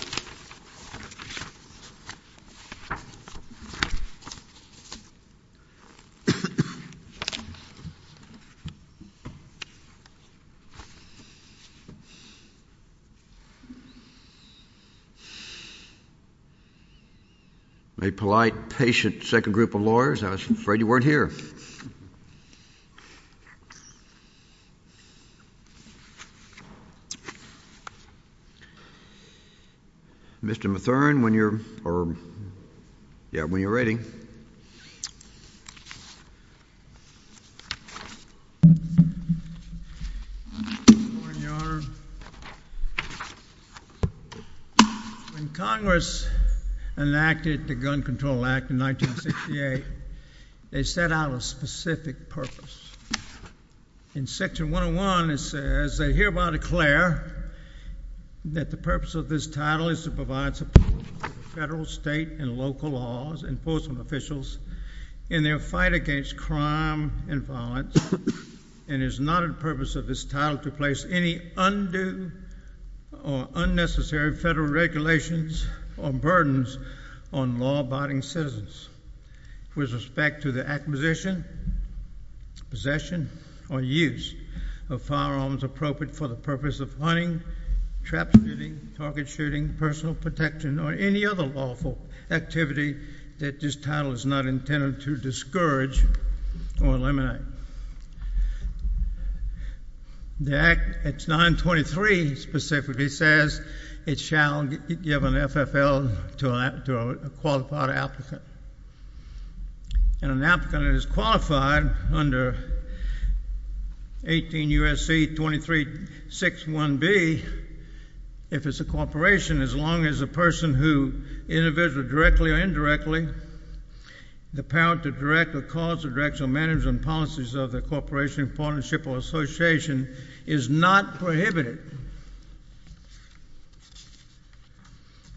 Smith A polite patient second group of lawyers I was afraid you weren't here mr. Matherne when you're or yeah when you're ready Congress enacted the Gun Control Act in 1968 they set out a specific purpose in section 101 it says that hereby declare that the purpose of this title is to provide support federal state and local laws enforcement officials in their fight against crime and violence and is not a purpose of this title to place any undue or unnecessary federal regulations or burdens on law-abiding citizens with respect to the acquisition possession or use of firearms appropriate for the purpose of hunting traps shooting target shooting personal protection or any other lawful activity that this title is not intended to discourage or eliminate the act at 923 specifically says it shall give an FFL to a qualified applicant and an applicant is qualified under 18 U.S.C. 2361B if it's a corporation as long as a person who individually directly or indirectly the power to direct or cause or direct management policies of the corporation partnership or association is not prohibited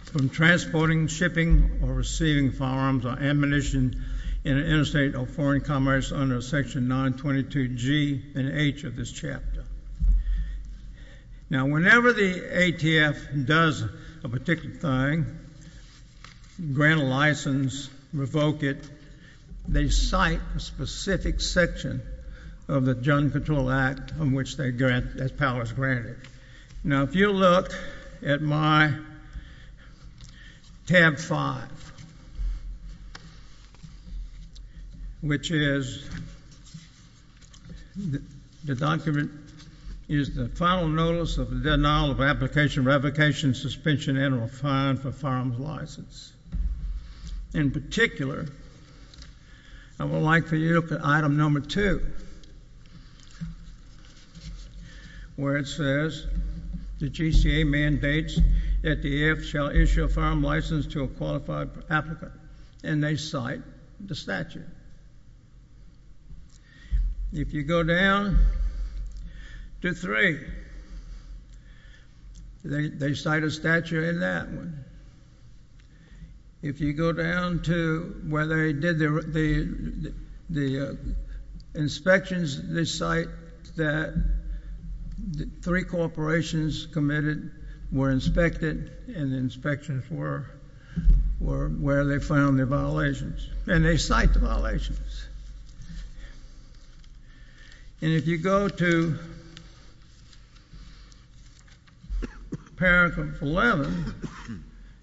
from transporting shipping or receiving firearms or ammunition in an interstate or foreign commerce under section 922 G and H of this chapter now whenever the ATF does a particular thing grant a license revoke it they cite a specific section of the gun control act which they grant as powers granted now if you look at my tab 5 which is the document is the final notice of the denial of application revocation suspension and or fine for firearms license in particular I would like for you to look at item number two where it says the GCA mandates that the AF shall issue a firearm license to a qualified applicant and they cite the statute if you go down to three they cite a statute in that one if you go down to where they did the inspections they cite that the three corporations committed were inspected and inspections were where they found the violations and they cite violations and if you go to paragraph 11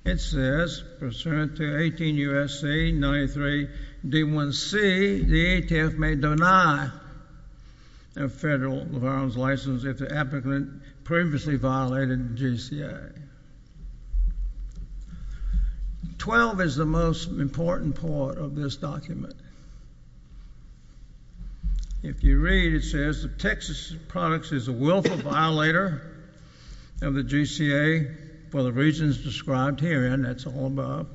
it says pursuant to 18 U.S.C. 93 D1C the ATF may deny a federal firearms license if the applicant previously violated the GCA. 12 is the most important part of this document. If you read it says the Texas products is a willful violator of the GCA for the reasons described here and that's all about.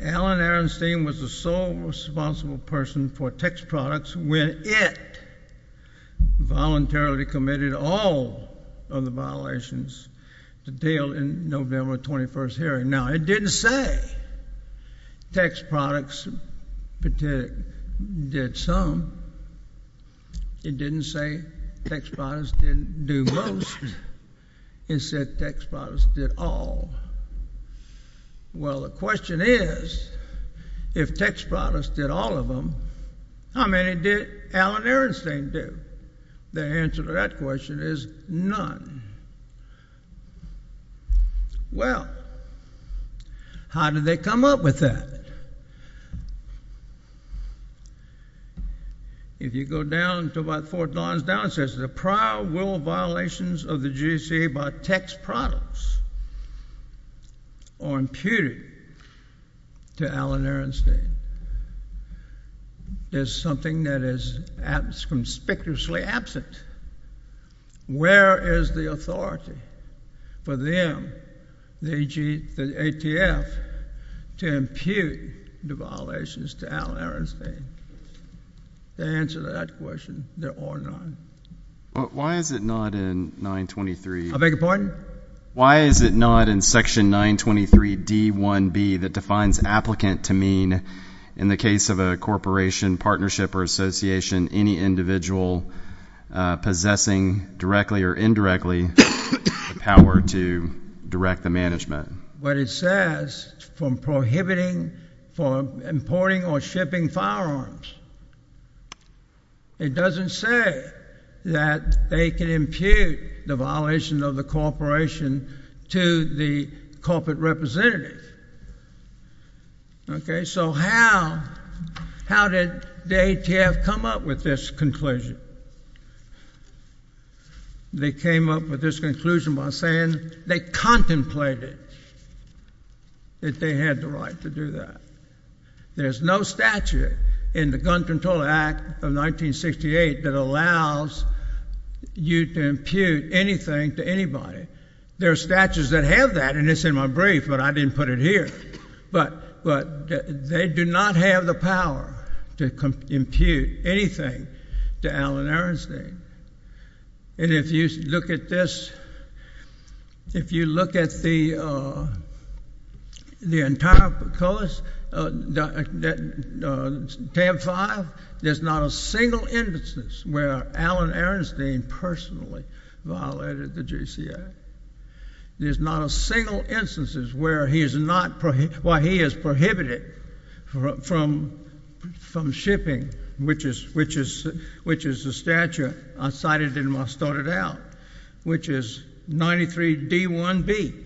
Alan Ehrenstein was the sole responsible person for Texas products when it voluntarily committed all of the violations to deal in November 21st hearing. Now it didn't say Texas products did some. It didn't say Texas products didn't do most. It said Texas products did all. Well the question is if Texas products did all of them how many did Alan Ehrenstein do? The answer to that question is none. Well how did they come up with that? If you go down to about fourth lines down it says the prior willful violations of the GCA by Texas products or imputed to Alan Ehrenstein is something that is conspicuously absent. Where is the authority for them the ATF to impute the violations to Alan Ehrenstein? The answer to that question there are none. Why is it not in 923? I beg your pardon? Why is it not in section 923 D1B that defines applicant to mean in the case of a corporation partnership or association any individual possessing directly or indirectly the power to direct the management? What it says from prohibiting from importing or shipping firearms it doesn't say that they can impute the violation of the corporation to the corporate representative. Okay so how did the ATF come up with this conclusion? They came up with this conclusion by saying they contemplated that they had the right to do that. There's no statute in the Gun Control Act of 1968 that allows you to impute anything to anybody. There are statutes that have that and it's in my brief but I didn't put it here. But they do not have the power to impute anything to Alan Ehrenstein. And if you look at this, if you look at the entire COAS, tab 5, there's not a single instance where Alan Ehrenstein personally violated the GCA. There's not a single instances where he is not, why he is prohibited from from shipping, which is the statute I cited in my started out, which is 93 D1B.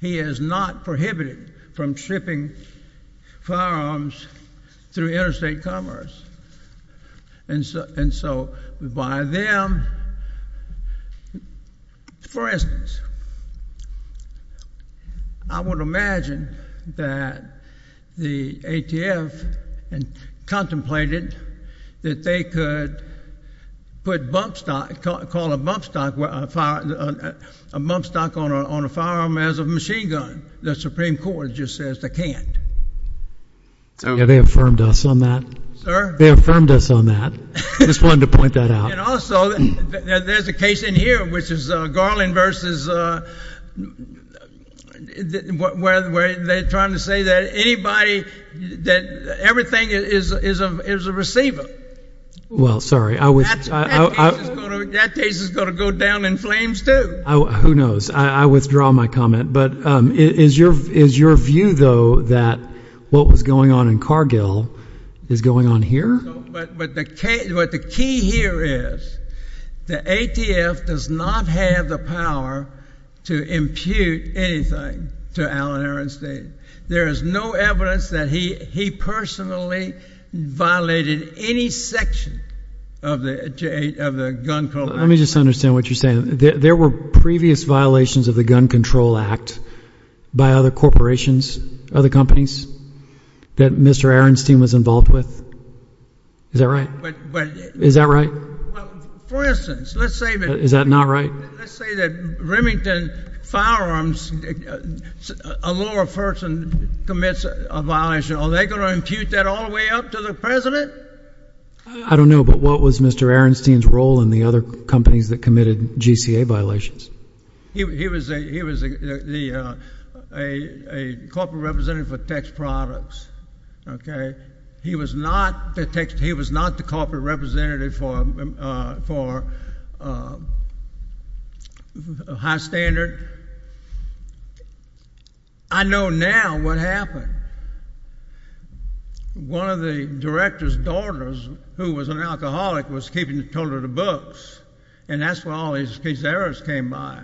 He is not prohibited from shipping firearms through interstate commerce. And so by them, for instance, I would imagine that the ATF contemplated that they could put bump stock, call it bump stock, a bump stock on a firearm as a machine gun. The Supreme Court just says they can't. Yeah they affirmed us on that. Sir? They affirmed us on that. Just wanted to point that out. And also, there's a case in here, which is Garland versus, where they're trying to say that anybody, that everything is a receiver. Well, sorry. That case is going to go down in flames too. Who knows. I withdraw my comment. But is your view, though, that what was going on in Cargill is going on here? No, but the key here is, the ATF does not have the power to impute anything to Allen Ehrenstein. There is no evidence that he personally violated any section of the Gun Control Act. Let me just understand what you're saying. There were previous violations of the Gun Control Act by other corporations, other companies, that Mr. Ehrenstein was involved with? Is that right? Is that right? For instance, let's say that Is that not right? Let's say that Remington Firearms, a lower person commits a violation. Are they going to impute that all the way up to the President? I don't know, but what was Mr. Ehrenstein's role in the other companies that committed GCA violations? He was a corporate representative for text products. He was not the corporate representative for high standard. I know now what happened. One of the director's daughters, who was an alcoholic, was keeping a total of the books, and that's where all these errors came by.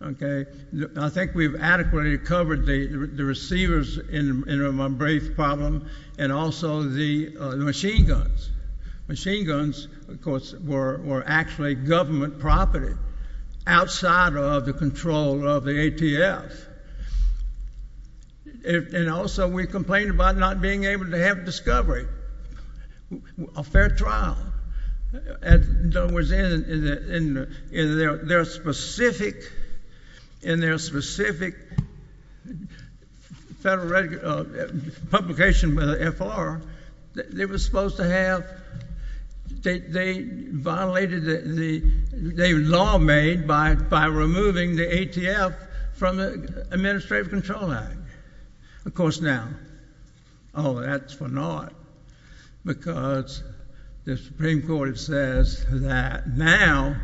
I think we've adequately covered the receivers in my brief problem, and also the machine guns. Machine guns, of course, were actually government property outside of the control of the ATF. Also, we complained about not being able to have discovery, a fair trial. In their specific publication with the FR, they violated the law made by removing the ATF from the Administrative Control Act. Of course, now, oh, that's for naught, because the Supreme Court says that now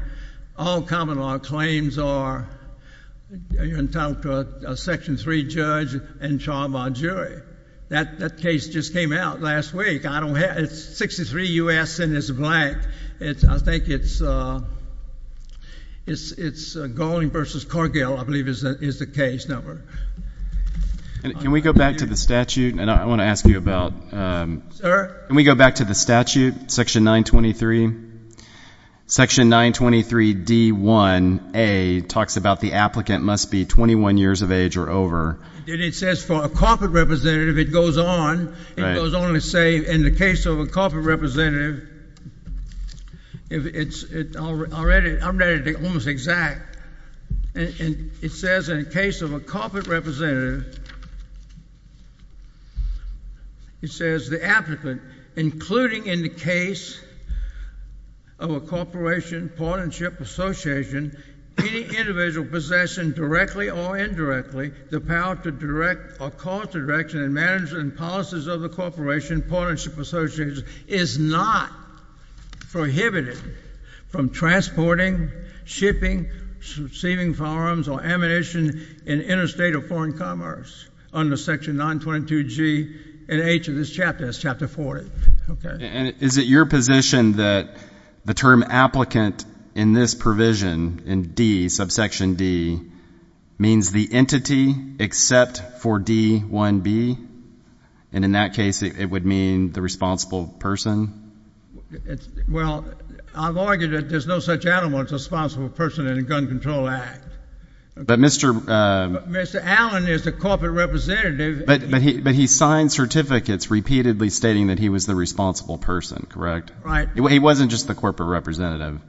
all common law claims are entitled to a Section 3 judge and trial by jury. That case just came out last week. It's 63 U.S. and it's black. I think it's Galling v. Corgill, I believe, is the case number. Can we go back to the statute? I want to ask you about. Sir? Can we go back to the statute, Section 923? Section 923D1A talks about the applicant must be 21 years of age or over. And it says for a corporate representative. It goes on. It goes on to say in the case of a corporate representative, it's already almost exact. And it says in the case of a corporate representative, it says the applicant, including in the case of a corporation, partnership, association, any individual possession directly or indirectly, the power to direct or cause the direction and management and policies of the corporation, partnership, association, is not prohibited from transporting, shipping, receiving firearms or ammunition in interstate or foreign commerce under Section 922G and H of this chapter, that's Chapter 40. And is it your position that the term applicant in this provision, in D, subsection D, means the entity except for D1B? And in that case, it would mean the responsible person? Well, I've argued that there's no such animal as a responsible person in a gun control act. But Mr. Mr. Allen is the corporate representative. But he signed certificates repeatedly stating that he was the responsible person, correct? Right. He wasn't just the corporate representative.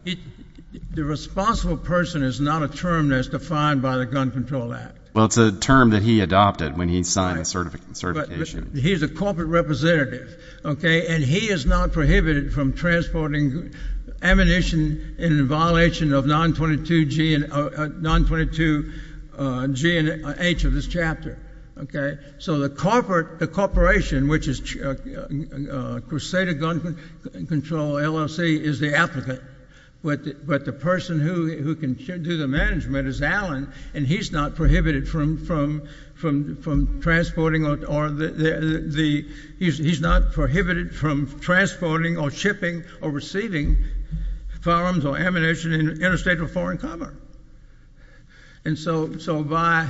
The responsible person is not a term that's defined by the Gun Control Act. Well, it's a term that he adopted when he signed the certification. He's a corporate representative. And he is not prohibited from transporting ammunition in violation of 922G and H of this chapter. Okay? So the corporation, which is Crusader Gun Control LLC, is the applicant. But the person who can do the management is Allen. And he's not prohibited from transporting or shipping or receiving firearms or ammunition in interstate or foreign commerce. And so by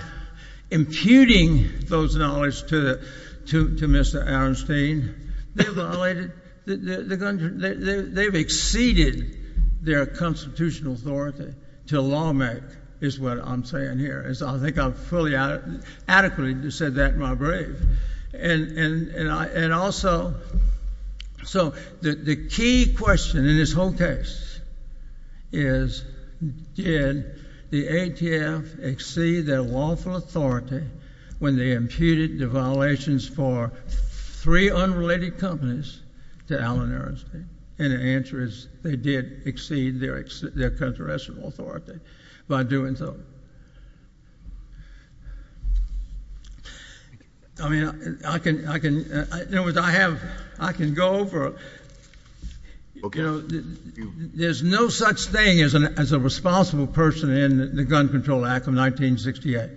imputing those knowledge to Mr. Aronstein, they've violated the Gun Control Act. They've exceeded their constitutional authority to law-make, is what I'm saying here. I think I've adequately said that in my brief. And also, so the key question in this whole case is did the ATF exceed their lawful authority when they imputed the violations for three unrelated companies to Allen Aronstein? And the answer is they did exceed their constitutional authority by doing so. I mean, I can go over. There's no such thing as a responsible person in the Gun Control Act of 1968.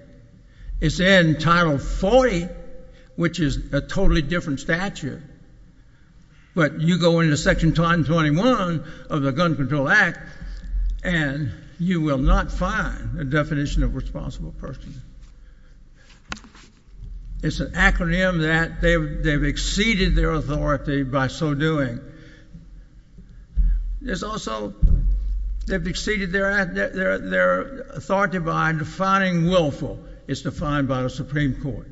It's in Title 40, which is a totally different statute. But you go into Section 121 of the Gun Control Act, and you will not find a definition of responsible person. It's an acronym that they've exceeded their authority by so doing. There's also they've exceeded their authority by defining willful. It's defined by the Supreme Court.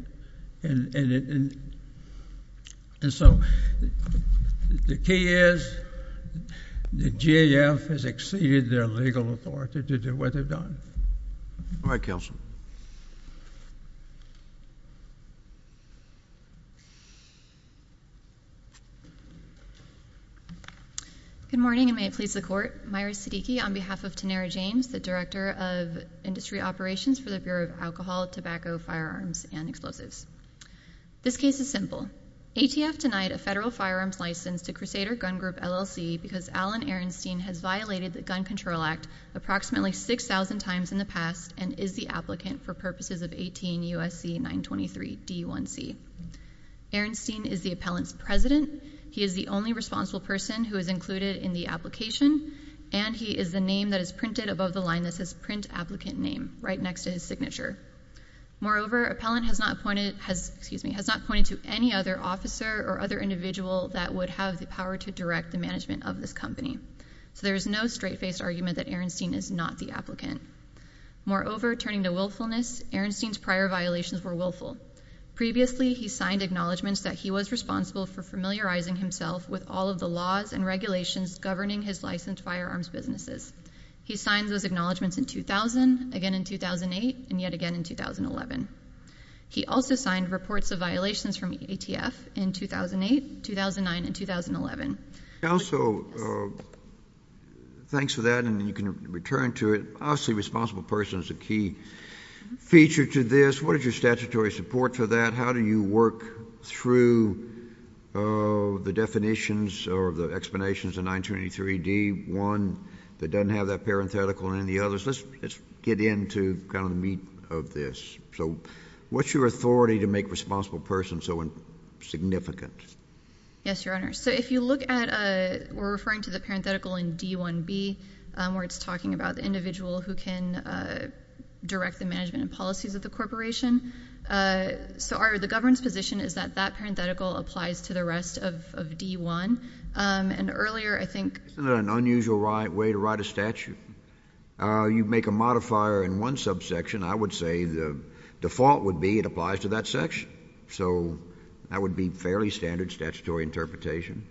And so the key is the GAF has exceeded their legal authority to do what they've done. All right, Counsel. Good morning, and may it please the Court. Myra Siddiqui on behalf of Tenera James, the Director of Industry Operations for the Bureau of Alcohol, Tobacco, Firearms, and Explosives. This case is simple. ATF denied a federal firearms license to Crusader Gun Group LLC because Allen Aronstein has violated the Gun Control Act approximately 6,000 times in the past and is the applicant for purposes of 18 U.S.C. 923 D1C. Aronstein is the appellant's president. He is the only responsible person who is included in the application, and he is the name that is printed above the line that says print applicant name right next to his signature. Moreover, appellant has not pointed to any other officer or other individual that would have the power to direct the management of this company. So there is no straight-faced argument that Aronstein is not the applicant. Moreover, turning to willfulness, Aronstein's prior violations were willful. Previously, he signed acknowledgments that he was responsible for familiarizing himself with all of the laws and regulations governing his licensed firearms businesses. He signed those acknowledgments in 2000, again in 2008, and yet again in 2011. He also signed reports of violations from ATF in 2008, 2009, and 2011. Counsel, thanks for that, and you can return to it. Obviously, responsible person is a key feature to this. What is your statutory support for that? How do you work through the definitions or the explanations of 923 D1 that doesn't have that parenthetical in any of the others? Let's get into kind of the meat of this. So what's your authority to make responsible person so insignificant? Yes, Your Honor. So if you look at we're referring to the parenthetical in D1B where it's talking about the individual who can direct the management and policies of the corporation. So the government's position is that that parenthetical applies to the rest of D1. And earlier, I think— Isn't that an unusual way to write a statute? You make a modifier in one subsection. I would say the default would be it applies to that section. So that would be fairly standard statutory interpretation.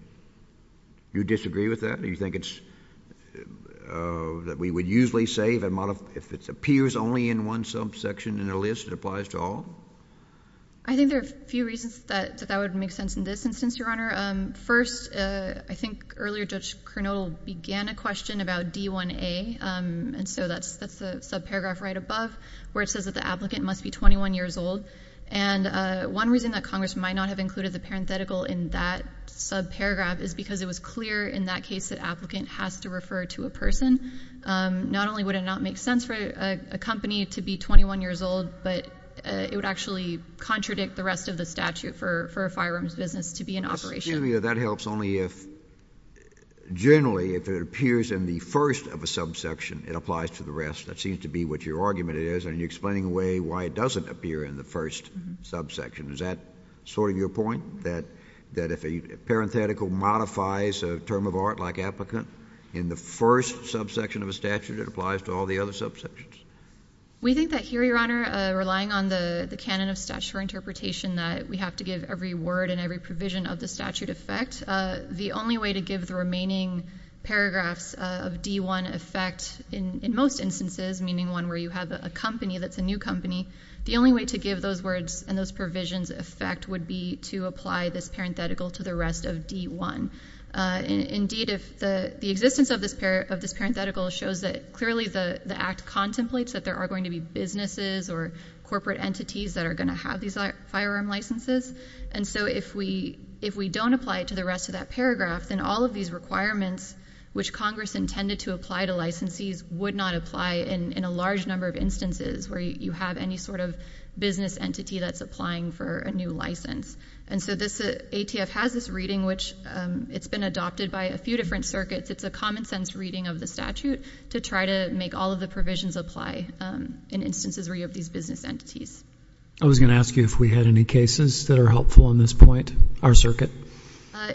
Do you disagree with that? Do you think it's—that we would usually say if it appears only in one subsection in a list, it applies to all? I think there are a few reasons that that would make sense in this instance, Your Honor. First, I think earlier Judge Kernodle began a question about D1A, and so that's the subparagraph right above where it says that the applicant must be 21 years old. And one reason that Congress might not have included the parenthetical in that subparagraph is because it was clear in that case that applicant has to refer to a person. Not only would it not make sense for a company to be 21 years old, but it would actually contradict the rest of the statute for a firearms business to be in operation. Excuse me. That helps only if generally if it appears in the first of a subsection, it applies to the rest. That seems to be what your argument is, and you're explaining away why it doesn't appear in the first subsection. Is that sort of your point, that if a parenthetical modifies a term of art like applicant in the first subsection of a statute, it applies to all the other subsections? We think that here, Your Honor, relying on the canon of statutory interpretation, that we have to give every word and every provision of the statute effect. The only way to give the remaining paragraphs of D1 effect in most instances, meaning one where you have a company that's a new company, the only way to give those words and those provisions effect would be to apply this parenthetical to the rest of D1. Indeed, the existence of this parenthetical shows that clearly the Act contemplates that there are going to be businesses or corporate entities that are going to have these firearm licenses. And so if we don't apply it to the rest of that paragraph, then all of these requirements, which Congress intended to apply to licensees, would not apply in a large number of instances where you have any sort of business entity that's applying for a new license. And so this ATF has this reading, which it's been adopted by a few different circuits. It's a common sense reading of the statute to try to make all of the provisions apply in instances where you have these business entities. I was going to ask you if we had any cases that are helpful on this point. Our circuit.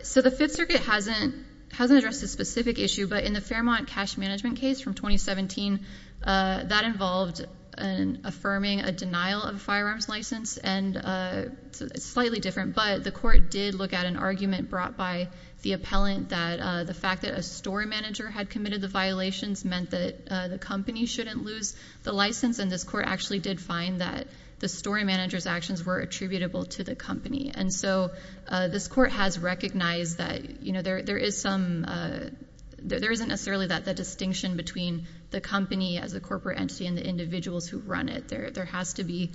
So the Fifth Circuit hasn't addressed this specific issue, but in the Fairmont cash management case from 2017, that involved affirming a denial of a firearms license, and it's slightly different. But the court did look at an argument brought by the appellant that the fact that a store manager had committed the violations meant that the company shouldn't lose the license. And this court actually did find that the store manager's actions were attributable to the company. And so this court has recognized that there isn't necessarily that distinction between the company as a corporate entity and the individuals who run it. There has to be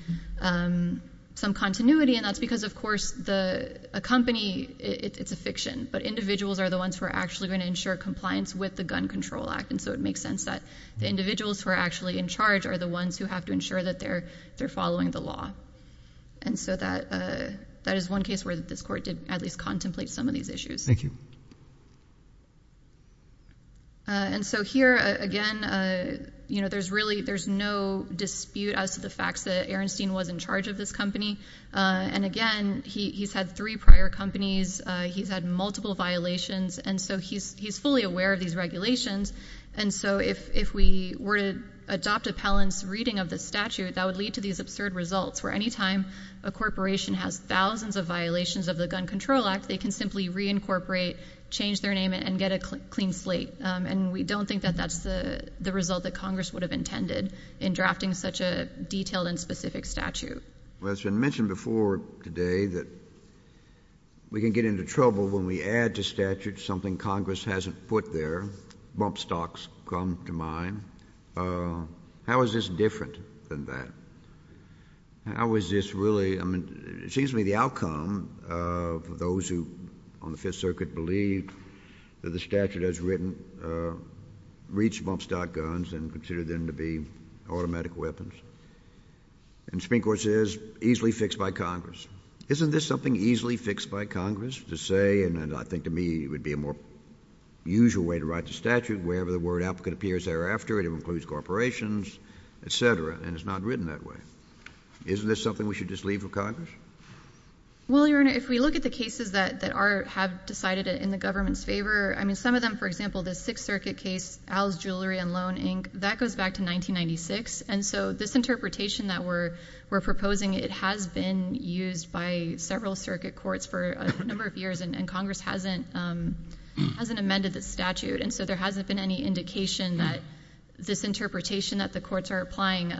some continuity, and that's because, of course, a company, it's a fiction. But individuals are the ones who are actually going to ensure compliance with the Gun Control Act. And so it makes sense that the individuals who are actually in charge are the ones who have to ensure that they're following the law. And so that is one case where this court did at least contemplate some of these issues. Thank you. And so here, again, there's no dispute as to the facts that Ehrenstein was in charge of this company. And, again, he's had three prior companies. He's had multiple violations. And so he's fully aware of these regulations. And so if we were to adopt appellant's reading of the statute, that would lead to these absurd results where any time a corporation has thousands of violations of the Gun Control Act, they can simply reincorporate, change their name, and get a clean slate. And we don't think that that's the result that Congress would have intended in drafting such a detailed and specific statute. Well, it's been mentioned before today that we can get into trouble when we add to statutes something Congress hasn't put there. Bump stocks come to mind. How is this different than that? How is this really? I mean, it seems to me the outcome of those who on the Fifth Circuit believed that the statute has reached bump stock guns and considered them to be automatic weapons. And Supreme Court says, easily fixed by Congress. Isn't this something easily fixed by Congress to say, and I think to me it would be a more usual way to write the statute, wherever the word applicant appears thereafter, it includes corporations, et cetera, and it's not written that way. Isn't this something we should just leave for Congress? Well, Your Honor, if we look at the cases that have decided in the government's favor, I mean, some of them, for example, the Sixth Circuit case, Al's Jewelry and Loan, Inc., that goes back to 1996. And so this interpretation that we're proposing, it has been used by several circuit courts for a number of years, and Congress hasn't amended the statute. And so there hasn't been any indication that this interpretation that the courts are applying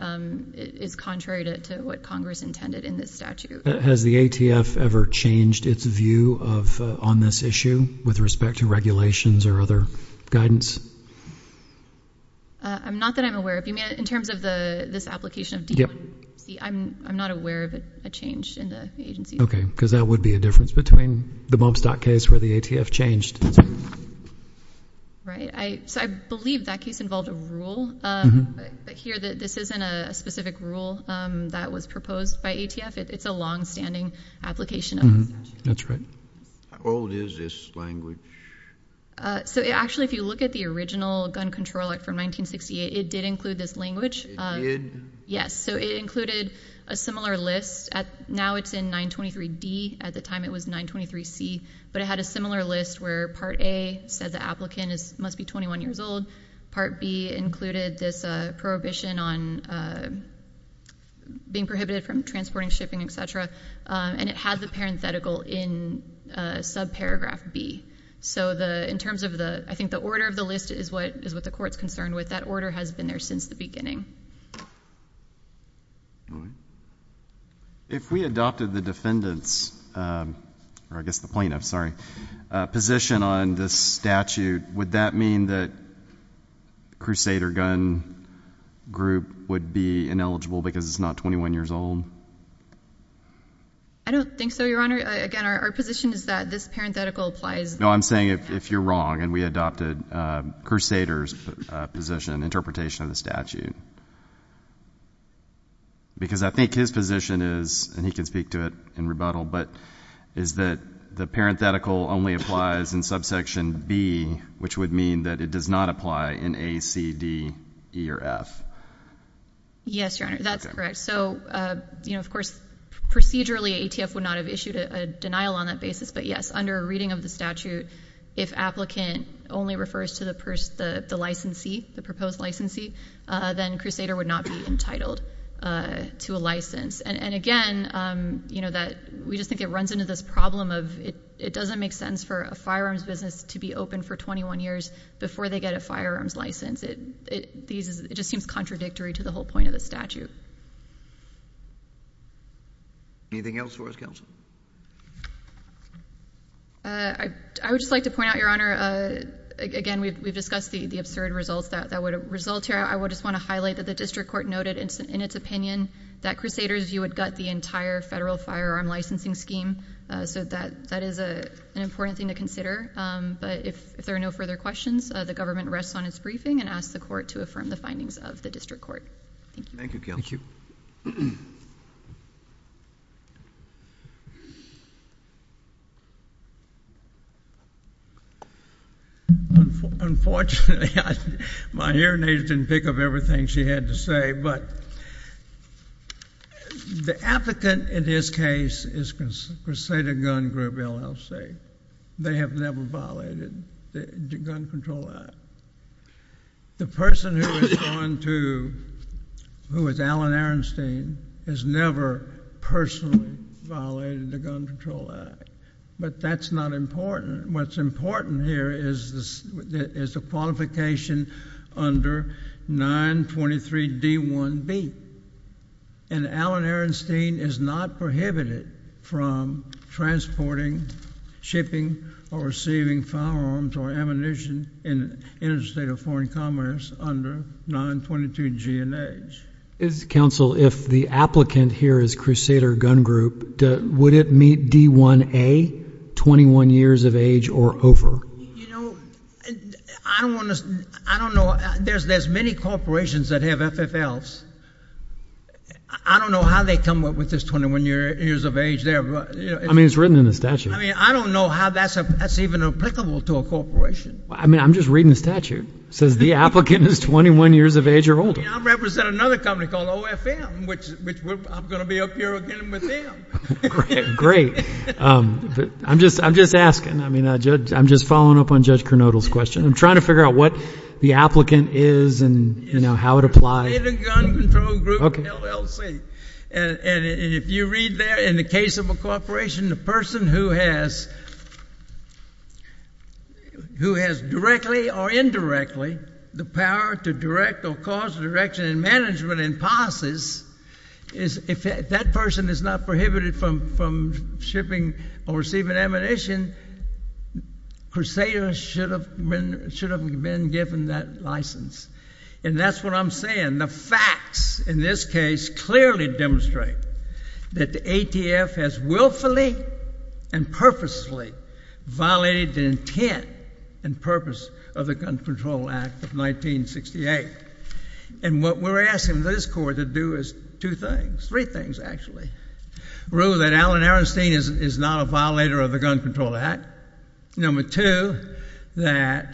is contrary to what Congress intended in this statute. Has the ATF ever changed its view on this issue with respect to regulations or other guidance? Not that I'm aware of. In terms of this application of D1C, I'm not aware of a change in the agency. Okay, because that would be a difference between the bump stock case where the ATF changed. Right. So I believe that case involved a rule. Here, this isn't a specific rule that was proposed by ATF. It's a longstanding application of the statute. That's right. How old is this language? So actually, if you look at the original gun control act from 1968, it did include this language. It did? Yes. So it included a similar list. Now it's in 923D. At the time, it was 923C. But it had a similar list where Part A said the applicant must be 21 years old. Part B included this prohibition on being prohibited from transporting, shipping, et cetera. And it had the parenthetical in subparagraph B. So in terms of the order of the list is what the court is concerned with. That order has been there since the beginning. Go ahead. If we adopted the defendant's, or I guess the plaintiff's, sorry, position on this statute, would that mean that Crusader Gun Group would be ineligible because it's not 21 years old? I don't think so, Your Honor. Again, our position is that this parenthetical applies. No, I'm saying if you're wrong and we adopted Crusader's position, interpretation of the statute, because I think his position is, and he can speak to it in rebuttal, but is that the parenthetical only applies in subsection B, which would mean that it does not apply in A, C, D, E, or F. Yes, Your Honor. That's correct. So, of course, procedurally ATF would not have issued a denial on that basis. But, yes, under a reading of the statute, if applicant only refers to the licensee, the proposed licensee, then Crusader would not be entitled to a license. And, again, we just think it runs into this problem of it doesn't make sense for a firearms business to be open for 21 years before they get a firearms license. It just seems contradictory to the whole point of the statute. Anything else for us, Counsel? I would just like to point out, Your Honor, again, we've discussed the absurd results that would result here. I would just want to highlight that the district court noted in its opinion that Crusader's view would gut the entire federal firearm licensing scheme. So that is an important thing to consider. But if there are no further questions, the government rests on its briefing and asks the court to affirm the findings of the district court. Thank you, Counsel. Thank you. Unfortunately, my hearing aids didn't pick up everything she had to say. But the applicant in this case is Crusader Gun Group, LLC. They have never violated the gun control act. The person who is going to, who is Alan Arenstein, has never personally violated the gun control act. But that's not important. What's important here is the qualification under 923D1B. And Alan Arenstein is not prohibited from transporting, shipping, or receiving firearms or ammunition in interstate or foreign commerce under 922G and H. Counsel, if the applicant here is Crusader Gun Group, would it meet D1A, 21 years of age or over? You know, I don't want to, I don't know. There's many corporations that have FFLs. I don't know how they come up with this 21 years of age there. I mean, it's written in the statute. I mean, I don't know how that's even applicable to a corporation. I mean, I'm just reading the statute. It says the applicant is 21 years of age or older. I represent another company called OFM, which I'm going to be up here again with them. Great. I'm just asking. I mean, I'm just following up on Judge Kernodle's question. I'm trying to figure out what the applicant is and, you know, how it applies. Crusader Gun Control Group, LLC. And if you read there, in the case of a corporation, the person who has directly or indirectly the power to direct or cause direction and management and policies, if that person is not prohibited from shipping or receiving ammunition, Crusader should have been given that license. And that's what I'm saying. The facts in this case clearly demonstrate that the ATF has willfully and purposely violated the intent and purpose of the Gun Control Act of 1968. And what we're asking this court to do is two things, three things, actually. Rule that Allen Arenstein is not a violator of the Gun Control Act. Number two, that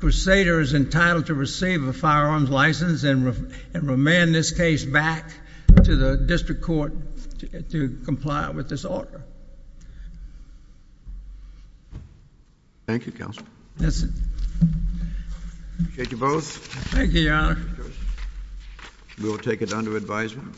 Crusader is entitled to receive a firearms license and remand this case back to the district court to comply with this order. Thank you, Counselor. Yes, sir. Appreciate you both. Thank you, Your Honor. We will take it under advisement.